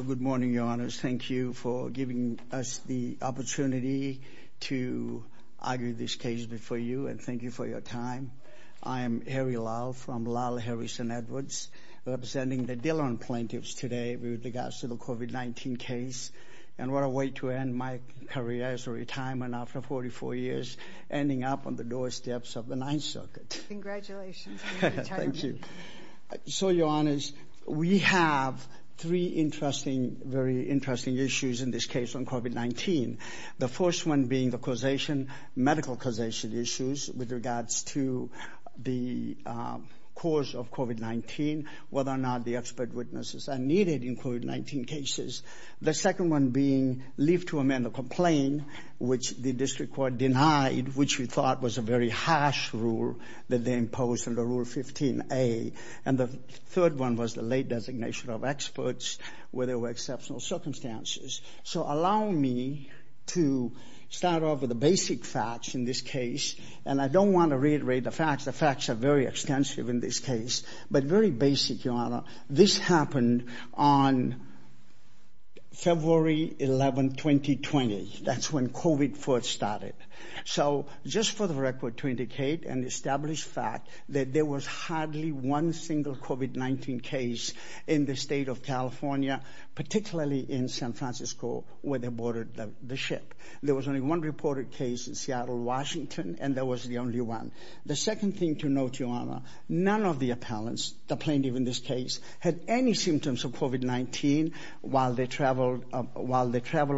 Good morning, Your Honors. Thank you for giving us the opportunity to argue this case before you and thank you for your time. I am Harry Lau from La La Harry St. Edwards representing the Dhillon plaintiffs today with regards to the COVID-19 case and what a way to end my career as a retirement after 44 years ending up on the doorsteps of the Ninth Circuit. Congratulations. Thank you. So, Your Honors, we have three interesting, very interesting issues in this case on COVID-19. The first one being the causation, medical causation issues with regards to the cause of COVID-19, whether or not the expert witnesses are needed in COVID-19 cases. The second one being leave to amend the complaint, which the district court denied, which we thought was a very harsh rule that they imposed under Rule 15a. And the third one was the late designation of experts where there were exceptional circumstances. So allow me to start off with the basic facts in this case, and I don't want to reiterate the facts. The facts are very extensive in this case, but very basic, Your Honor. This started. So just for the record to indicate and establish fact that there was hardly one single COVID-19 case in the state of California, particularly in San Francisco, where they boarded the ship. There was only one reported case in Seattle, Washington, and that was the only one. The second thing to note, Your Honor, none of the appellants, the plaintiff in this case, had any symptoms of COVID-19 while they traveled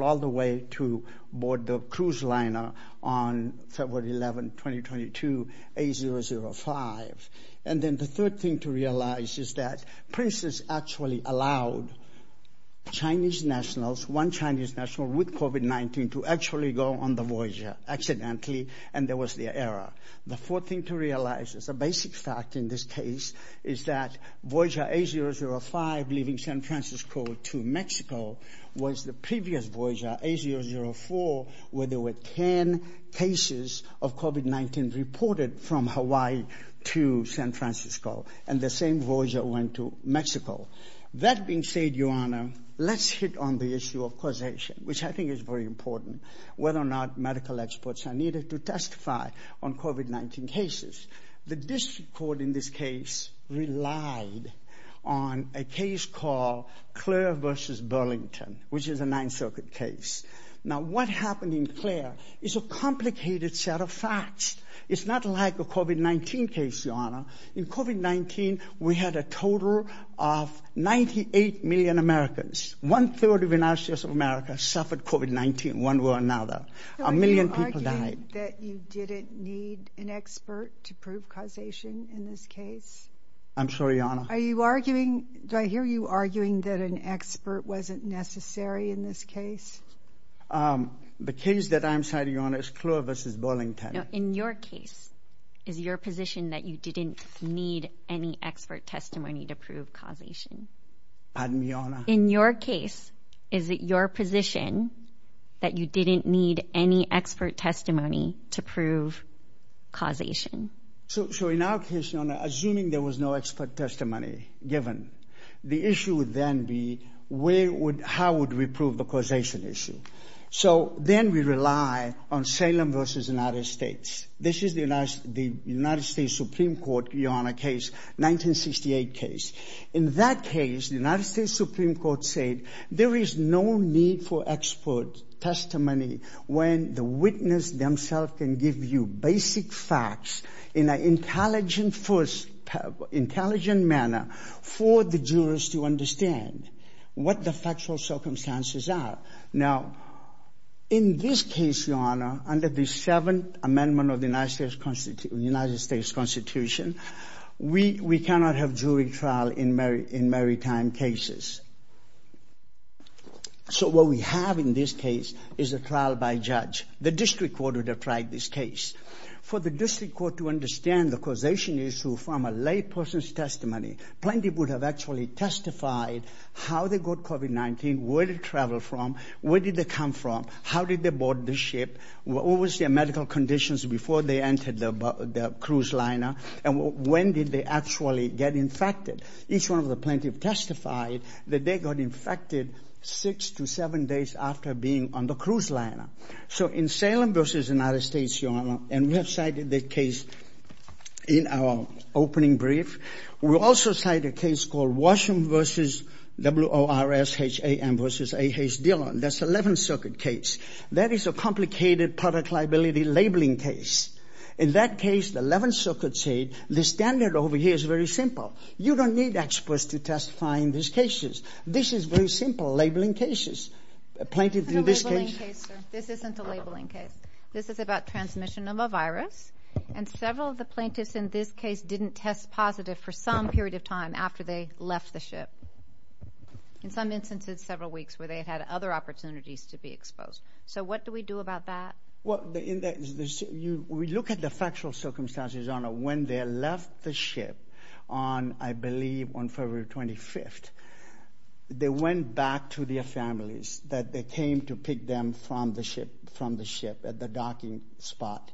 all the way to board the cruise liner on February 11, 2022, A005. And then the third thing to realize is that Princess actually allowed Chinese nationals, one Chinese national with COVID-19, to actually go on the Voyager accidentally, and there was the error. The fourth thing to realize is a basic fact in this case is that Voyager A005 leaving San Francisco to Mexico was the only time there were 10 cases of COVID-19 reported from Hawaii to San Francisco, and the same Voyager went to Mexico. That being said, Your Honor, let's hit on the issue of causation, which I think is very important, whether or not medical experts are needed to testify on COVID-19 cases. The district court in this case relied on a case called a complicated set of facts. It's not like a COVID-19 case, Your Honor. In COVID-19, we had a total of 98 million Americans. One-third of the United States of America suffered COVID-19, one way or another. A million people died. Are you arguing that you didn't need an expert to prove causation in this case? I'm sorry, Your Honor. Are you arguing, do I hear you arguing that an expert wasn't necessary in this case? The case that I'm citing, Your Honor, is Kluwer v. Burlington. No, in your case, is your position that you didn't need any expert testimony to prove causation? Pardon me, Your Honor? In your case, is it your position that you didn't need any expert testimony to prove causation? So in our case, Your Honor, assuming there was no expert testimony given, the issue would then be how would we prove the causation issue? So then we rely on Salem v. United States. This is the United States Supreme Court, Your Honor, case, 1968 case. In that case, the United States Supreme Court said there is no need for expert testimony when the witness themselves can give you basic facts in an intelligent manner for the jurors to understand. What the factual circumstances are. Now, in this case, Your Honor, under the Seventh Amendment of the United States Constitution, we cannot have jury trial in maritime cases. So what we have in this case is a trial by judge. The district court would have tried this case. For the district court to understand the causation issue from a lay person's testimony, plaintiff would have actually testified how they got COVID-19, where they traveled from, where did they come from, how did they board the ship, what was their medical conditions before they entered the cruise liner, and when did they actually get infected. Each one of the plaintiffs testified that they got infected six to seven days after being on the cruise liner. So in Salem v. United States, Your Honor, and we have cited the case in our opening brief. We also cite a case called Washam v. WORSHAM v. A.H. Dillon. That's the Eleventh Circuit case. That is a complicated product liability labeling case. In that case, the Eleventh Circuit said, the standard over here is very simple. You don't need experts to testify in these cases. This is very simple labeling cases. Plaintiff in this case. This isn't a labeling case. This is about transmission of a virus, and several of the plaintiffs in this case didn't test positive for some period of time after they left the ship. In some instances, several weeks where they had other opportunities to be exposed. So what do we do about that? Well, we look at the factual circumstances, Your Honor. When they left the ship on, I believe, on February 25th, they went back to their families that they came to pick them from the ship from the ship at the docking spot.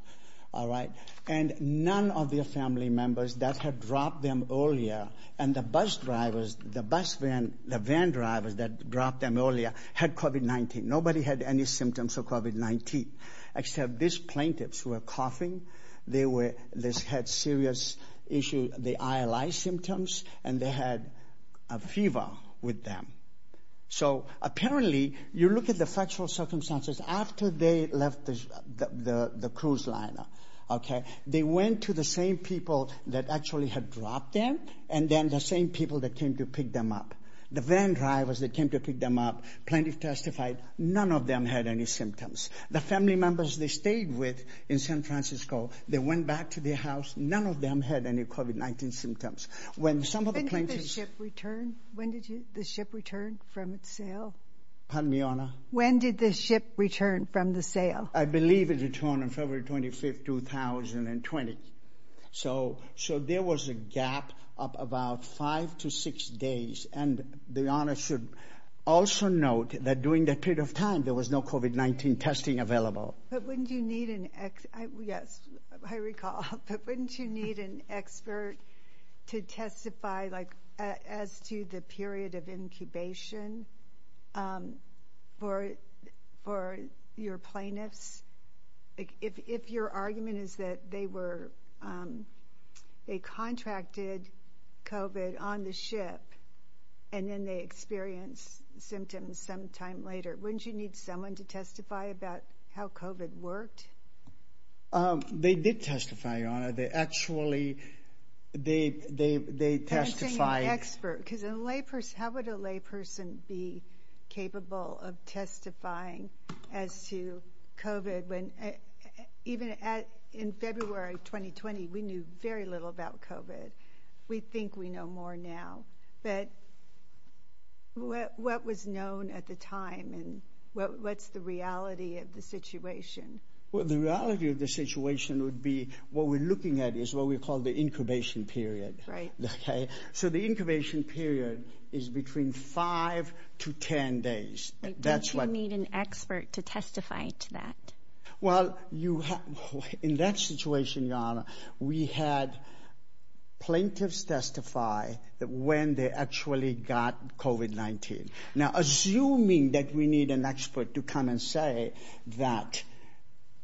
All right. And none of their family members that had dropped them earlier and the bus drivers, the bus van, the van drivers that dropped them earlier had COVID-19. Nobody had any symptoms of COVID-19, except these plaintiffs who are coughing. They were this had serious issue, the ILI symptoms, and they had a fever with them. So apparently you look at the factual circumstances after they left the cruise liner. Okay. They went to the same people that actually had dropped them. And then the same people that came to pick them up. The van drivers that came to pick them up, plaintiff testified, none of them had any symptoms. The family members they stayed with in San Francisco, they went back to their house. None of them had any COVID-19 symptoms. When some of the plaintiffs... When did the ship return? When did the ship return from its sail? Pardon me, Honor. When did the ship return from the sail? I believe it returned on February 25th, 2020. So there was a gap of about five to six days. And the Honor should also note that during that period of time, there was no COVID-19 testing available. But wouldn't you need an ex... Yes, I recall. But wouldn't you need an expert to testify as to the period of incubation for your plaintiffs? If your argument is that they were... They contracted COVID on the ship and then they experienced symptoms sometime later, wouldn't you need someone to testify about how COVID worked? They did testify, Your Honor. They actually... They testified... I'm saying an expert because how would a lay person be capable of testifying as to COVID when even in February 2020, we knew very little about COVID. We think we know more now. But what was known at the time and what's the reality of the situation? Well, the reality of the situation would be what we're looking at is what we call the incubation period. So the incubation period is between five to 10 days. Don't you need an expert to testify to that? Well, in that situation, Your Honor, we had plaintiffs testify when they actually got COVID-19. Now, assuming that we need an expert to come and say that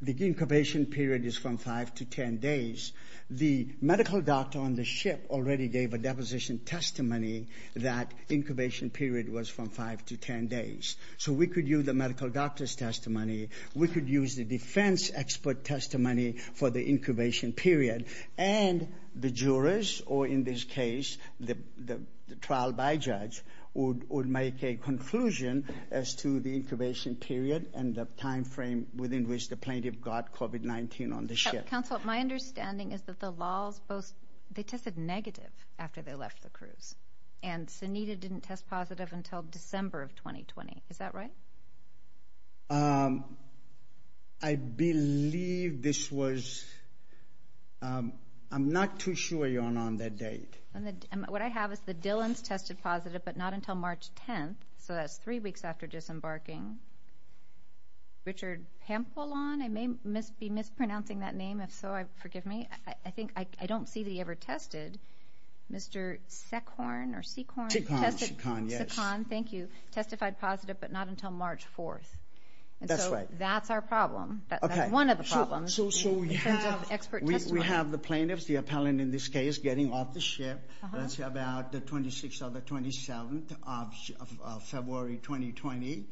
the incubation period is from five to 10 days, the medical doctor on the ship already gave a deposition testimony that incubation period was from five to 10 days. So we could use the medical doctor's testimony. We could use the defense expert testimony for the incubation period. And the jurors, or in this case, the trial by judge, would make a conclusion as to the incubation period and the time frame within which the plaintiff got COVID-19 on the ship. Counsel, my understanding is that the laws, they tested negative after they left the cruise. And Sunita didn't test positive until December of that date. What I have is the Dillons tested positive, but not until March 10th. So that's three weeks after disembarking. Richard Pampolon, I may be mispronouncing that name. If so, forgive me. I don't see that he ever tested. Mr. Secorn or Secorn? Secorn, yes. Secorn, thank you. Testified positive, but not until March 4th. That's right. And so that's our problem. That's one of the ship. That's about the 26th or the 27th of February, 2020.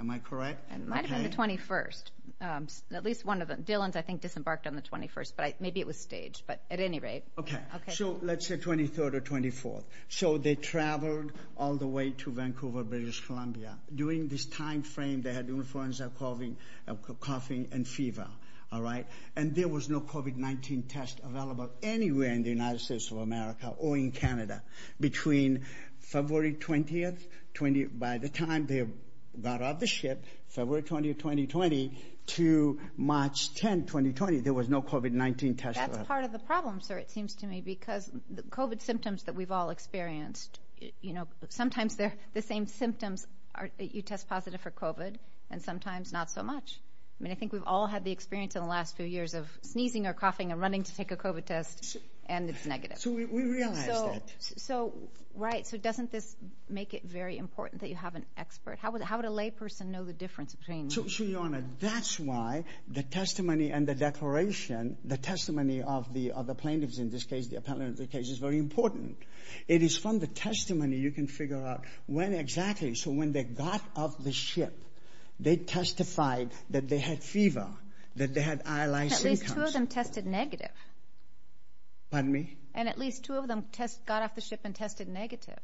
Am I correct? It might have been the 21st. At least one of the Dillons, I think, disembarked on the 21st, but maybe it was staged, but at any rate. Okay. So let's say 23rd or 24th. So they traveled all the way to Vancouver, British Columbia. During this time frame, they had influenza, coughing, and fever. All right. And there was no COVID-19 test available anywhere in the United States of America or in Canada. Between February 20th, by the time they got off the ship, February 20th, 2020, to March 10th, 2020, there was no COVID-19 test. That's part of the problem, sir, it seems to me, because the COVID symptoms that we've all experienced, you know, sometimes they're the same symptoms. You test positive for COVID and sometimes not so much. I mean, I think we've all had the experience in the last few years of sneezing or coughing and running to take a COVID test, and it's negative. So we realize that. Right. So doesn't this make it very important that you have an expert? How would a lay person know the difference between... So, Your Honor, that's why the testimony and the declaration, the testimony of the plaintiffs in this case, the appellant in this case, is very important. It is from the testimony you can figure out when exactly. So when they got off the ship, they testified that they had fever, that they had... At least two of them tested negative. Pardon me? And at least two of them got off the ship and tested negative.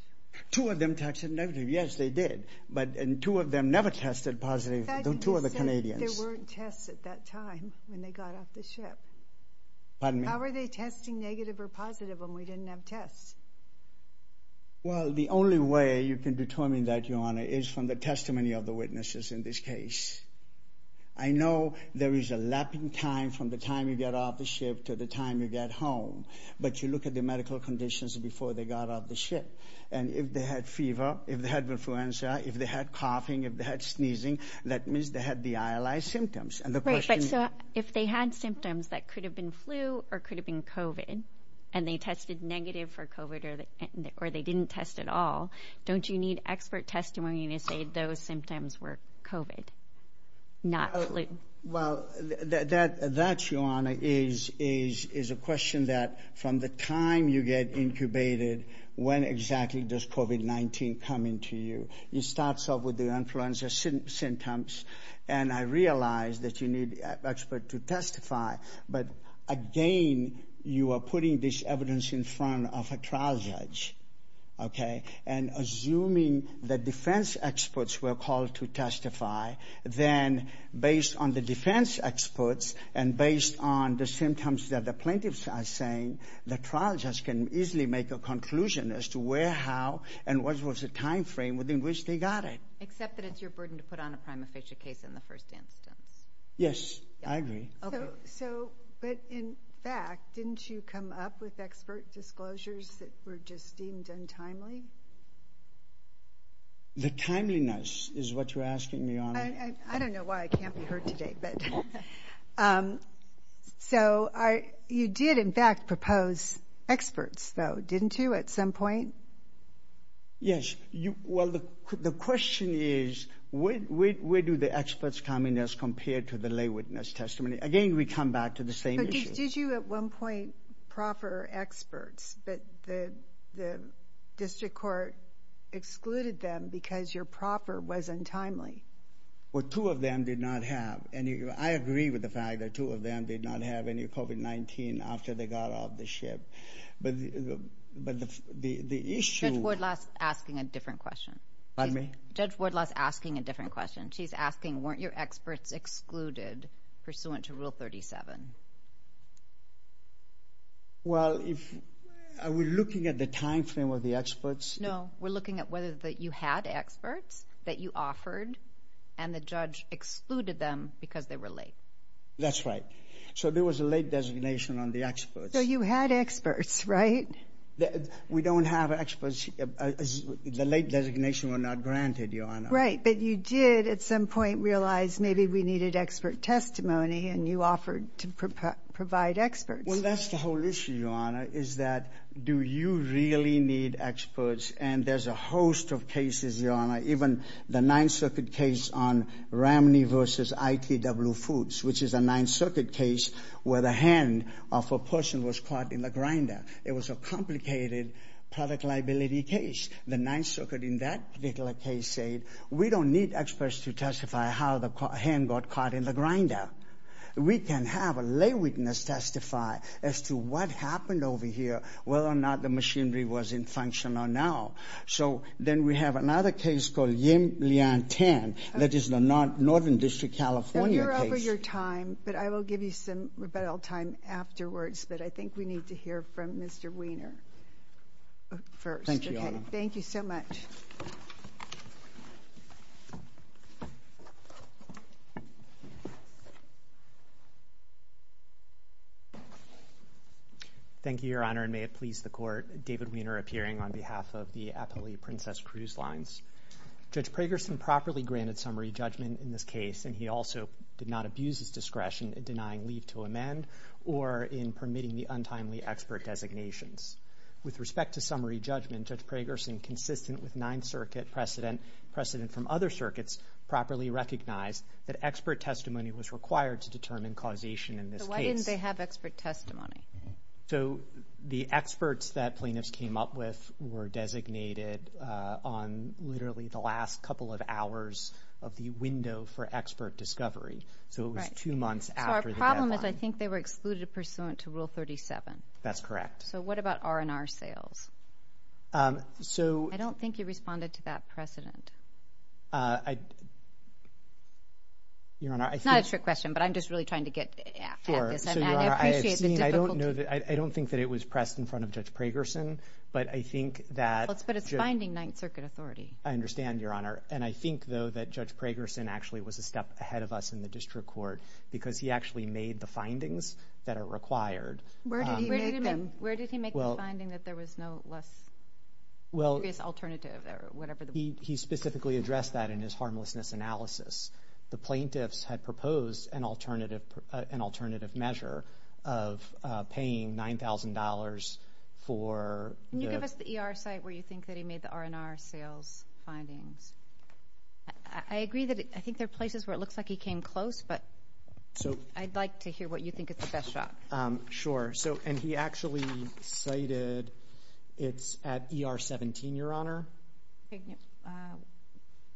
Two of them tested negative. Yes, they did. And two of them never tested positive, though two of the Canadians. But you said there weren't tests at that time when they got off the ship. Pardon me? How were they testing negative or positive when we didn't have tests? Well, the only way you can determine that, Your Honor, is from the testimony of the witnesses in this case. I know there is a lapping time from the time you get off the ship to the time you get home. But you look at the medical conditions before they got off the ship. And if they had fever, if they had influenza, if they had coughing, if they had sneezing, that means they had the ILI symptoms. And the question... Right, but so if they had symptoms that could have been flu or could have been COVID, and they tested negative for COVID or they didn't test at all, don't you need expert testimony to say those symptoms were COVID, not flu? Well, that, Your Honor, is a question that from the time you get incubated, when exactly does COVID-19 come into you? It starts off with the influenza symptoms. And I realize that you need expert to testify. But again, you are putting this evidence in front of a trial judge, okay? And assuming that defense experts were called to testify, then based on the defense experts and based on the symptoms that the plaintiffs are saying, the trial judge can easily make a conclusion as to where, how, and what was the timeframe within which they got it. Except that it's your burden to put on a prima facie case in the first instance. Yes, I agree. So, but in fact, didn't you come up with expert disclosures that were just deemed untimely? The timeliness is what you're asking me, Your Honor? I don't know why I can't be heard today, but... So you did in fact propose experts, though, didn't you, at some point? Yes. Well, the question is, where do the experts come in as compared to the lay witness testimony? Again, we come back to the same issue. But did you at one point proffer experts, but the district court excluded them because your proffer was untimely? Well, two of them did not have any. I agree with the fact that two of them did not have any after they got off the ship. But the issue... Judge Wardlaw's asking a different question. Pardon me? Judge Wardlaw's asking a different question. She's asking, weren't your experts excluded pursuant to Rule 37? Well, if... Are we looking at the timeframe of the experts? No, we're looking at whether you had experts that you offered and the judge excluded them because they were late. That's right. So there was a late designation on the experts. So you had experts, right? We don't have experts. The late designation were not granted, Your Honor. Right. But you did at some point realize maybe we needed expert testimony and you offered to provide experts. Well, that's the whole issue, Your Honor, is that do you really need experts? And there's a host of cases, Your Honor, even the Ninth Circuit case on Ramney versus ITW Foods, which is a Ninth Circuit case where the hand of a person was caught in the grinder. It was a complicated product liability case. The Ninth Circuit in that particular case said, we don't need experts to testify how the hand got caught in the grinder. We can have a lay witness testify as to what happened over here, whether or not the machinery was in function or not. So then we have another case called Yim Lian Tan. That is the Northern District, California case. Well, you're over your time, but I will give you some rebuttal time afterwards, but I think we need to hear from Mr. Wiener first. Thank you, Your Honor. Thank you so much. Thank you, Your Honor, and may it please the Court, David Wiener appearing on behalf of the Appalachian Princess Cruise Lines. Judge Pragerson properly granted summary judgment in this case, and he also did not abuse his discretion in denying leave to amend or in permitting the untimely expert designations. With respect to summary judgment, Judge Pragerson, consistent with Ninth Circuit precedent, precedent from other circuits, properly recognized that expert testimony was required to determine causation in this case. They have expert testimony. So the experts that plaintiffs came up with were designated on literally the last couple of hours of the window for expert discovery. So it was two months after the deadline. So our problem is I think they were excluded pursuant to Rule 37. That's correct. So what about R&R sales? I don't think you responded to that precedent. Your Honor, I think... I don't think that it was pressed in front of Judge Pragerson, but I think that... But it's binding Ninth Circuit authority. I understand, Your Honor, and I think, though, that Judge Pragerson actually was a step ahead of us in the district court because he actually made the findings that are required. Where did he make the finding that there was no less serious alternative or whatever? He specifically addressed that in his harmlessness analysis. The plaintiffs had proposed an alternative measure of paying $9,000 for... Can you give us the ER site where you think that he made the R&R sales findings? I agree that I think there are places where it looks like he came close, but I'd like to hear what you think is the best shot. Sure. And he actually cited... It's at ER 17, Your Honor.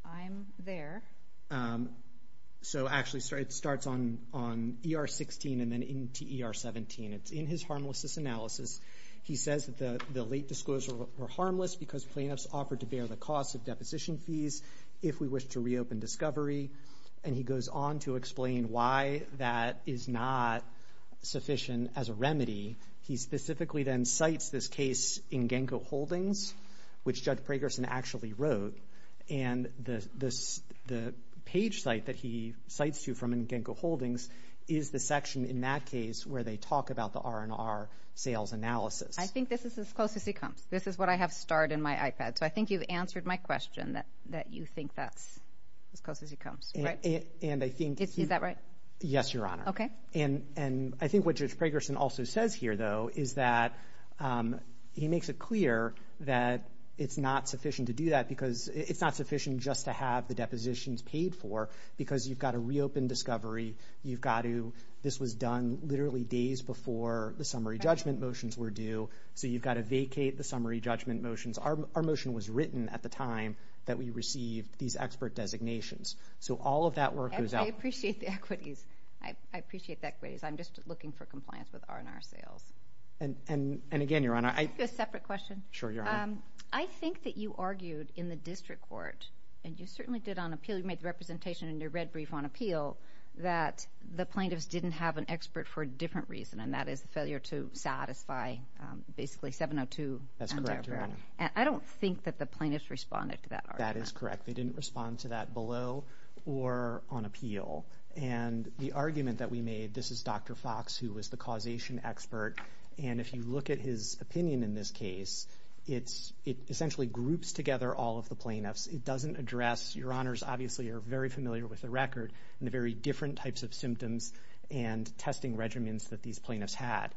I'm there. So, actually, it starts on ER 16 and then into ER 17. It's in his harmlessness analysis. He says that the late disclosures were harmless because plaintiffs offered to bear the costs of deposition fees if we wish to reopen discovery. And he goes on to explain why that is not sufficient as a remedy. He specifically then cites this case in Genco Holdings, which Judge Pragerson actually wrote. And the page site that he cites to from Genco Holdings is the section in that case where they talk about the R&R sales analysis. I think this is as close as it comes. This is what I have starred in my iPad. So I think you've answered my question that you think that's as close as it comes. And I think... Is that right? Yes, Your Honor. And I think what Judge Pragerson also says here, though, is that he makes it clear that it's not sufficient to do that because it's not sufficient just to have the depositions paid for because you've got to reopen discovery. You've got to... This was done literally days before the summary judgment motions were due. So you've got to vacate the summary judgment motions. Our motion was written at the time that we received these expert designations. So all of that work goes out... I appreciate the equities. I appreciate the equities. I'm just looking for compliance with R&R sales. And again, Your Honor, I... A separate question. Sure, Your Honor. I think that you argued in the district court, and you certainly did on appeal, you made the representation in your red brief on appeal, that the plaintiffs didn't have an expert for a different reason, and that is the failure to satisfy basically 702. That's correct, Your Honor. I don't think that the plaintiffs responded to that argument. That is correct. They didn't respond to that below or on appeal. And the argument that we made, this is Dr. Fox, who was the causation expert. And if you look at his opinion in this case, it essentially groups together all of the plaintiffs. It doesn't address... Your Honors, obviously, are very familiar with the record and the very different types of symptoms and testing regimens that these plaintiffs had.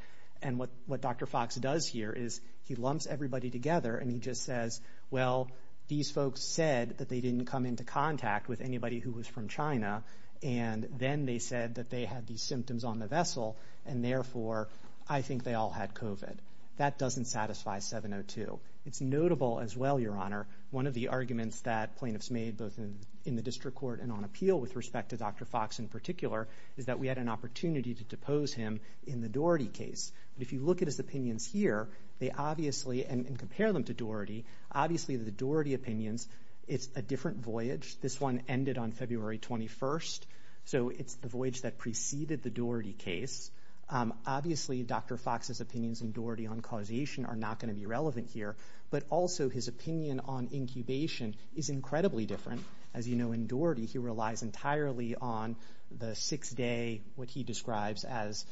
And what Dr. Fox does here is he lumps everybody together, and he just says, well, these folks said that they didn't come into contact with anybody who was from China, and then they said that they had these symptoms on the vessel, and therefore, I think they all had COVID. That doesn't satisfy 702. It's notable as well, Your Honor, one of the arguments that plaintiffs made, both in the district court and on appeal, with respect to Dr. Fox in particular, is that we had an opportunity to depose him in the Doherty case. But if you look at his opinions here, they obviously, and compare them to Doherty, obviously, the Doherty opinions, it's a different voyage. This one ended on February 21st, so it's the voyage that preceded the Doherty case. Obviously, Dr. Fox's opinions in Doherty on causation are not going to be relevant here, but also his opinion on incubation is incredibly different. As you know, in Doherty, he relies entirely on the six-day, what he describes as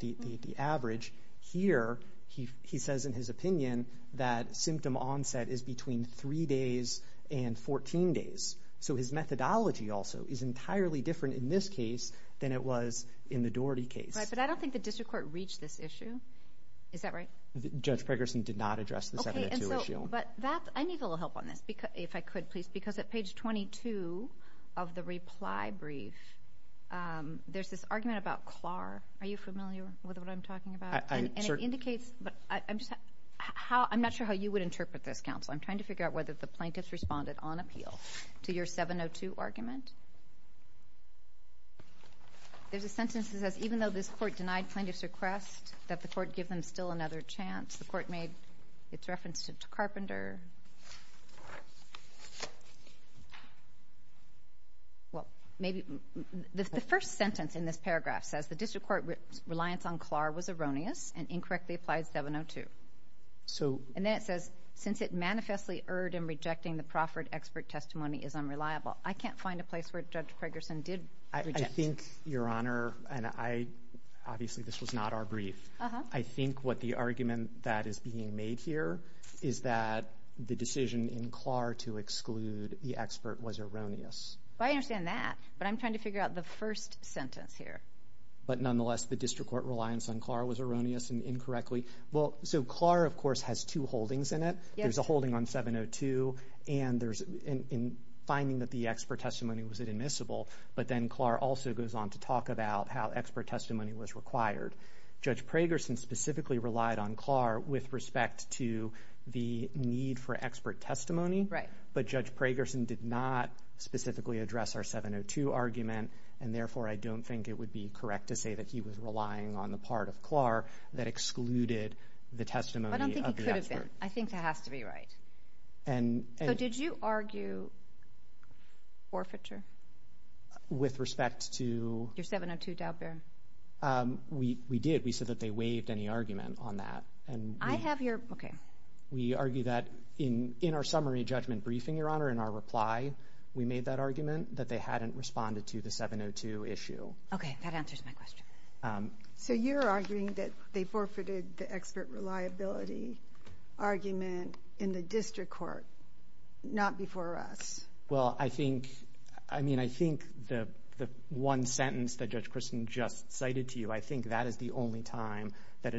the average. Here, he says in his opinion that symptom onset is between three days and 14 days. His methodology also is entirely different in this case than it was in the Doherty case. But I don't think the district court reached this issue. Is that right? Judge Pregerson did not address the 702 issue. But I need a little help on this, if I could, please, because at page 22 of the reply brief, there's this argument about CLAR. Are you familiar with what I'm talking about? I'm not sure how you would interpret this, counsel. I'm trying to figure out whether the plaintiffs responded on appeal. To your 702 argument. There's a sentence that says, even though this court denied plaintiff's request, that the court give them still another chance. The court made its reference to Carpenter. Well, maybe the first sentence in this paragraph says, the district court's reliance on CLAR was erroneous and incorrectly applied 702. So. And then it says, since it manifestly erred in rejecting the Crawford expert testimony is unreliable. I can't find a place where Judge Pregerson did. I think, Your Honor, and I, obviously, this was not our brief. I think what the argument that is being made here is that the decision in CLAR to exclude the expert was erroneous. Well, I understand that. But I'm trying to figure out the first sentence here. But nonetheless, the district court reliance on CLAR was erroneous and incorrectly. Well, so CLAR, of course, has two holdings in it. There's a holding on 702. And there's in finding that the expert testimony was admissible. But then CLAR also goes on to talk about how expert testimony was required. Judge Pregerson specifically relied on CLAR with respect to the need for expert testimony. Right. But Judge Pregerson did not specifically address our 702 argument. And therefore, I don't think it would be correct to say that he was relying on the part of CLAR that excluded the testimony of the expert. I don't think it could have been. I think that has to be right. And... So did you argue forfeiture? With respect to... Your 702 doubt, Baron? We did. We said that they waived any argument on that. And we... I have your... Okay. We argue that in our summary judgment briefing, Your Honor, in our reply, we made that argument that they hadn't responded to the 702 issue. Okay. That answers my question. So you're arguing that they forfeited the expert reliability argument in the district court, not before us. Well, I think... I mean, I think the one sentence that Judge Christin just cited to you, I think that is the only time that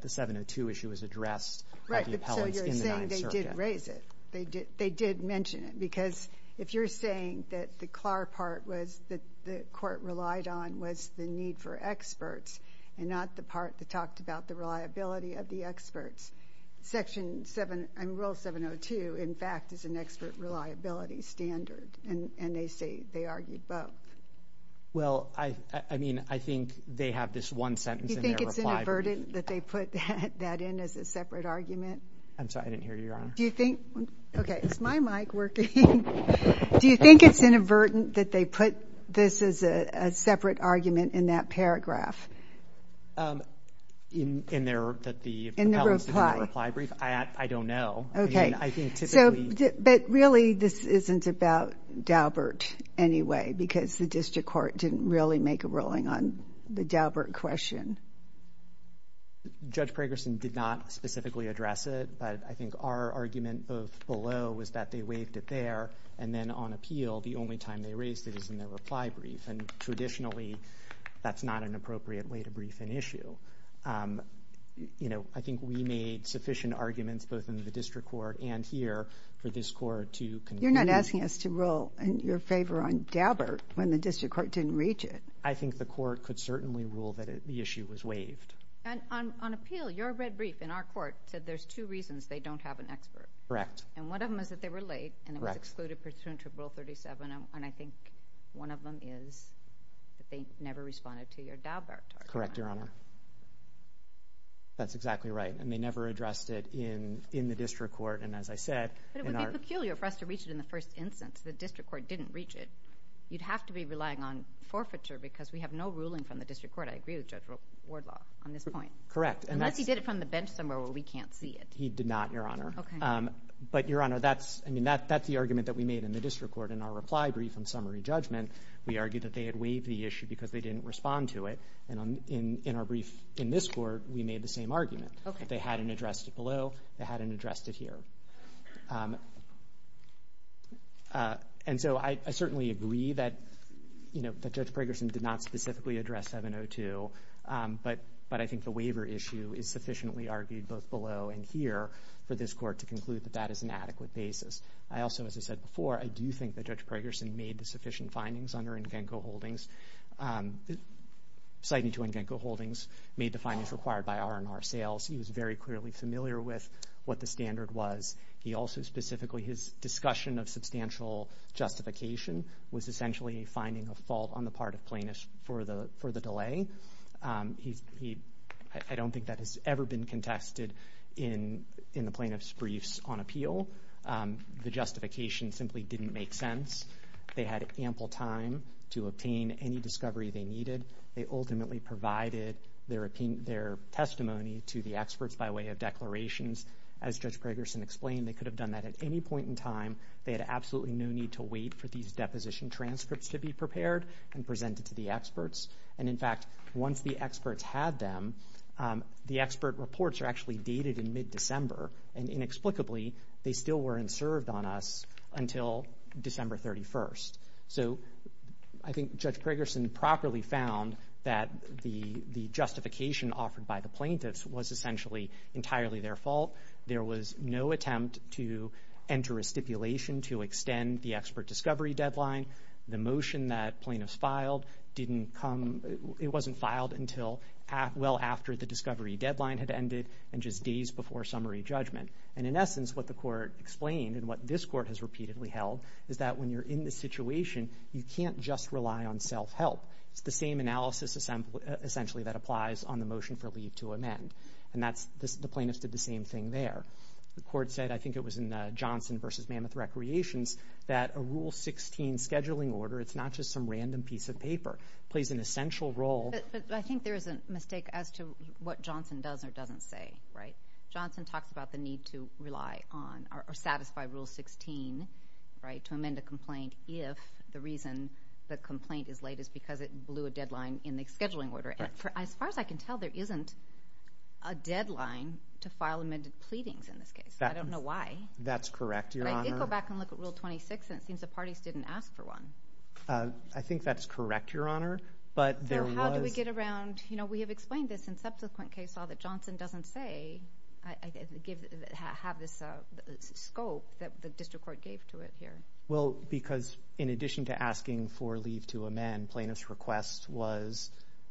the 702 issue was addressed by the appellants in the 9th Circuit. Right. So you're saying they did raise it. They did mention it. Because if you're saying that the CLAR part was that the court relied on the need for experts and not the part that talked about the reliability of the experts, Section 7... I mean, Rule 702, in fact, is an expert reliability standard. And they say they argued both. Well, I mean, I think they have this one sentence in their reply... Do you think it's inadvertent that they put that in as a separate argument? I'm sorry. I didn't hear you, Your Honor. Do you think... Okay. Is my mic working? Do you think it's inadvertent that they put this as a separate argument in that paragraph? In their... That the appellants did a reply brief? I don't know. Okay. I mean, I think typically... But really, this isn't about Daubert anyway, because the district court didn't really make a ruling on the Daubert question. Judge Pragerson did not specifically address it. But I think our argument, both below, was that they waived it there. And then on appeal, the only time they raised it is in their reply brief. And traditionally, that's not an appropriate way to brief an issue. I think we made sufficient arguments, both in the district court and here, for this court to... You're not asking us to rule in your favor on Daubert when the district court didn't reach it. I think the court could certainly rule that the issue was waived. And on appeal, your red brief in our court said there's two reasons they don't have an expert. Correct. And one of them is that they were late, and it was excluded pursuant to Rule 37. And I think one of them is that they never responded to your Daubert. Correct, Your Honor. That's exactly right. And they never addressed it in the district court. And as I said... But it would be peculiar for us to reach it in the first instance. The district court didn't reach it. You'd have to be relying on forfeiture, because we have no ruling from the district court. I agree with Judge Wardlaw. Correct. Unless he did it from the bench somewhere where we can't see it. He did not, Your Honor. But, Your Honor, that's the argument that we made in the district court. In our reply brief on summary judgment, we argued that they had waived the issue because they didn't respond to it. And in our brief in this court, we made the same argument. They hadn't addressed it below. They hadn't addressed it here. And so I certainly agree that Judge Preggerson did not specifically address 702. But I think the waiver issue is sufficiently argued both below and here for this court to conclude that that is an adequate basis. I also, as I said before, I do think that Judge Preggerson made the sufficient findings under Ngenko Holdings. 702 Ngenko Holdings made the findings required by R&R sales. He was very clearly familiar with what the standard was. He also specifically... His discussion of substantial justification was essentially finding a fault on the part of plaintiffs for the delay. He... I don't think that has ever been contested in the plaintiff's briefs on appeal. The justification simply didn't make sense. They had ample time to obtain any discovery they needed. They ultimately provided their testimony to the experts by way of declarations. As Judge Preggerson explained, they could have done that at any point in time. They had absolutely no need to wait for these deposition transcripts to be prepared and presented to the experts. And in fact, once the experts had them, the expert reports are actually dated in mid-December. And inexplicably, they still weren't served on us until December 31st. So I think Judge Preggerson properly found that the justification offered by the plaintiffs was essentially entirely their fault. There was no attempt to enter a stipulation to extend the expert discovery deadline. The motion that plaintiffs filed didn't come... It wasn't filed until well after the discovery deadline had ended and just days before summary judgment. And in essence, what the court explained and what this court has repeatedly held is that when you're in this situation, you can't just rely on self-help. It's the same analysis essentially that applies on the motion for leave to amend. And that's... The plaintiffs did the same thing there. The court said, I think it was in Johnson v. Mammoth Recreations, that a Rule 16 scheduling order, it's not just some random piece of paper. It plays an essential role. But I think there is a mistake as to what Johnson does or doesn't say, right? Johnson talks about the need to rely on or satisfy Rule 16, right, to amend a complaint if the reason the complaint is late is because it blew a deadline in the scheduling order. As far as I can tell, there isn't a deadline to file amended pleadings in this case. I don't know why. That's correct, Your Honor. But I did go back and look at Rule 26, and it seems the parties didn't ask for one. I think that's correct, Your Honor. But there was... So how do we get around... We have explained this in subsequent case law that Johnson doesn't say, have this scope that the district court gave to it here. Well, because in addition to asking for leave to amend, plaintiff's request was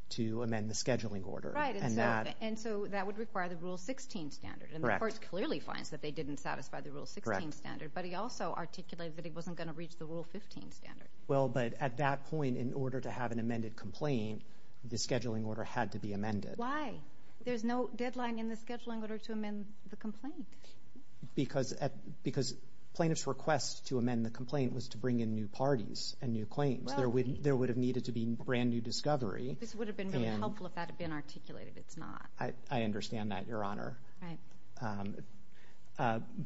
to amend the scheduling order. Right, and so that would require the Rule 16 standard. And the court clearly finds that they didn't satisfy the Rule 16 standard, but he also articulated that he wasn't going to reach the Rule 15 standard. Well, but at that point, in order to have an amended complaint, the scheduling order had to be amended. Why? There's no deadline in the scheduling order to amend the complaint. Because plaintiff's request to amend the complaint was to bring in new parties and new claims. Well... There would have needed to be brand new discovery. This would have been really helpful if that had been articulated. It's not. I understand that, Your Honor. Right.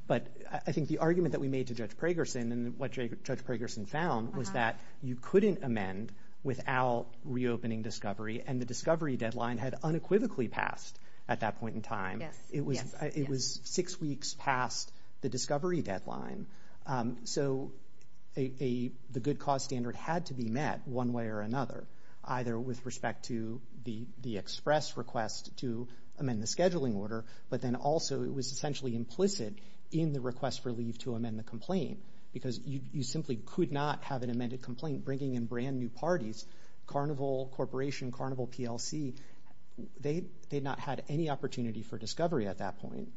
But I think the argument that we made to Judge Pragerson and what Judge Pragerson found was that you couldn't amend without reopening discovery, and the discovery deadline had unequivocally passed at that point in time. Yes. It was six weeks past the discovery deadline. So the good cause standard had to be met one way or another, either with respect to the express request to amend the scheduling order, but then also it was essentially implicit in the request for leave to amend the complaint, because you simply could not have an amended complaint bringing in brand new parties. Carnival Corporation, Carnival PLC, they had not had any opportunity for discovery at that point.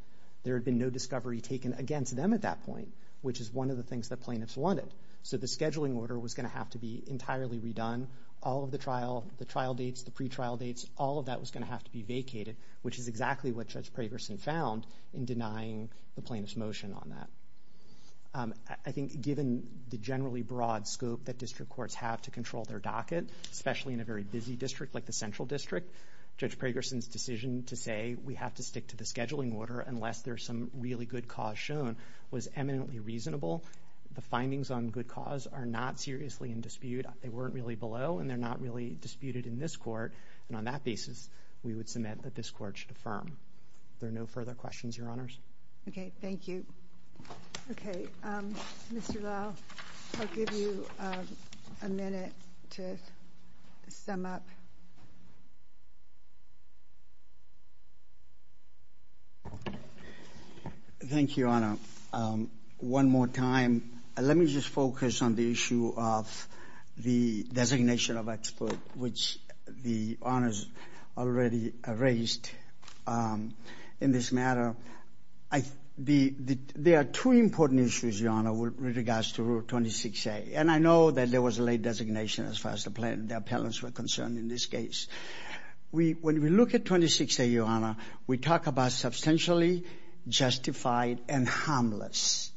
There had been no discovery taken against them at that point, which is one of the things that plaintiffs wanted. So the scheduling order was going to have to be entirely redone. All of the trial, the trial dates, the pre-trial dates, all of that was going to have to be vacated, which is exactly what Judge Pragerson found in denying the plaintiff's motion on that. I think given the generally broad scope that district courts have to control their docket, especially in a very busy district like the Central District, Judge Pragerson's decision to say, we have to stick to the scheduling order unless there's some really good cause shown, was eminently reasonable. The findings on good cause are not seriously in dispute. They weren't really below, and they're not really disputed in this court. And on that basis, we would submit that this court should affirm. There are no further questions, Your Honors. Okay, thank you. Okay, Mr. Lowe, I'll give you a minute to sum up. Thank you, Your Honor. One more time. Let me just focus on the issue of the designation of expert, which the Honors already raised in this matter. There are two important issues, Your Honor, with regards to Rule 26A. And I know that there was a late designation as far as the plaintiff, the appellants were concerned in this case. When we look at 26A, Your Honor, we talk about substantially justified and harmless.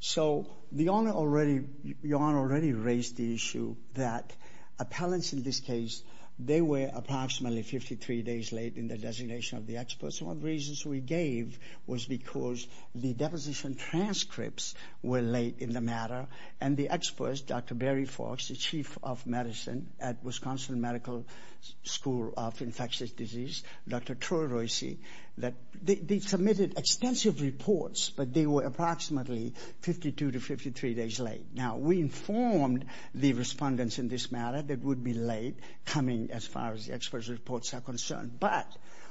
So Your Honor already raised the issue that appellants in this case, they were approximately 53 days late in the designation of the experts. One of the reasons we gave was because the deposition transcripts were late in the matter. And the experts, Dr. Barry Fox, the Chief of Medicine at Wisconsin Medical School of Infectious Disease, Dr. Troy Royce, they submitted extensive reports, but they were approximately 52 to 53 days late. We informed the respondents in this matter that it would be late coming as far as the experts' reports are concerned. But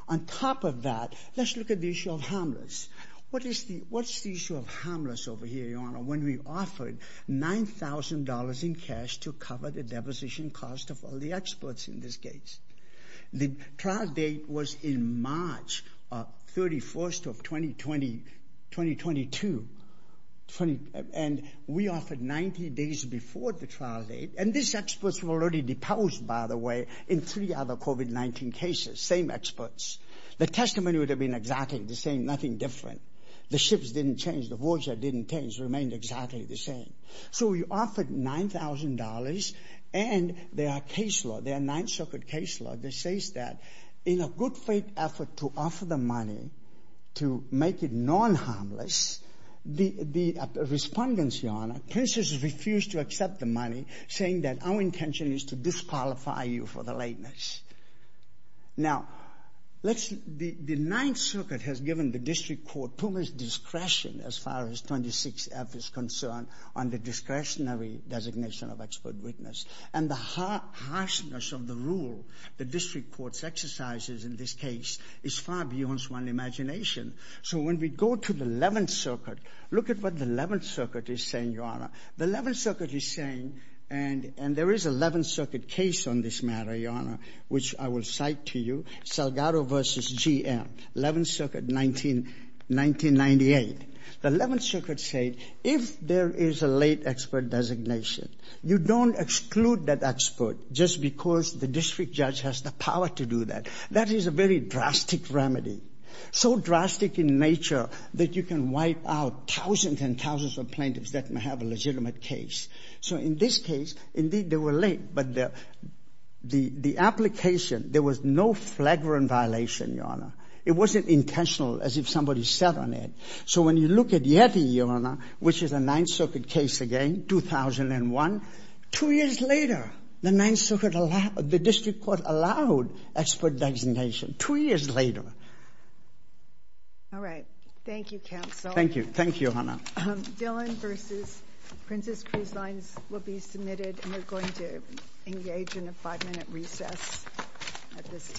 on top of that, let's look at the issue of harmless. What's the issue of harmless over here, Your Honor, when we offered $9,000 in cash to cover the deposition cost of all the experts in this case? The trial date was in March 31st of 2022. And we offered 90 days before the trial date, and these experts were already deposed, by the way, in three other COVID-19 cases, same experts. The testimony would have been exactly the same, nothing different. The shifts didn't change, the voucher didn't change, remained exactly the same. So we offered $9,000, and there are case law, there are Ninth Circuit case law that says that in a good faith effort to offer the money to make it non-harmless, the respondents, Your Honor, princes refused to accept the money, saying that our intention is to disqualify you for the lateness. Now, the Ninth Circuit has given the district court too much discretion as far as 26F is concerned on the discretionary designation of expert witness. And the harshness of the rule the district court's exercises in this case is far beyond one's imagination. So when we go to the 11th Circuit, look at what the 11th Circuit is saying, Your Honor. The 11th Circuit is saying, and there is a 11th Circuit case on this matter, Your Honor, which I will cite to you, Salgado versus GM, 11th Circuit, 1998. The 11th Circuit said, if there is a late expert designation, you don't exclude that expert just because the district judge has the power to do that. That is a very drastic remedy. So drastic in nature that you can wipe out thousands and thousands of plaintiffs that may have a legitimate case. So in this case, indeed, they were late, but the application, there was no flagrant violation, Your Honor. It wasn't intentional as if somebody sat on it. So when you look at Yeti, Your Honor, which is a Ninth Circuit case again, 2001, two years later, the Ninth Circuit, the district court allowed expert designation, two years later. All right. Thank you, counsel. Thank you. Thank you, Your Honor. Dillon versus Prince's Cruise Lines will be submitted, and we're going to engage in a five-minute recess at this time.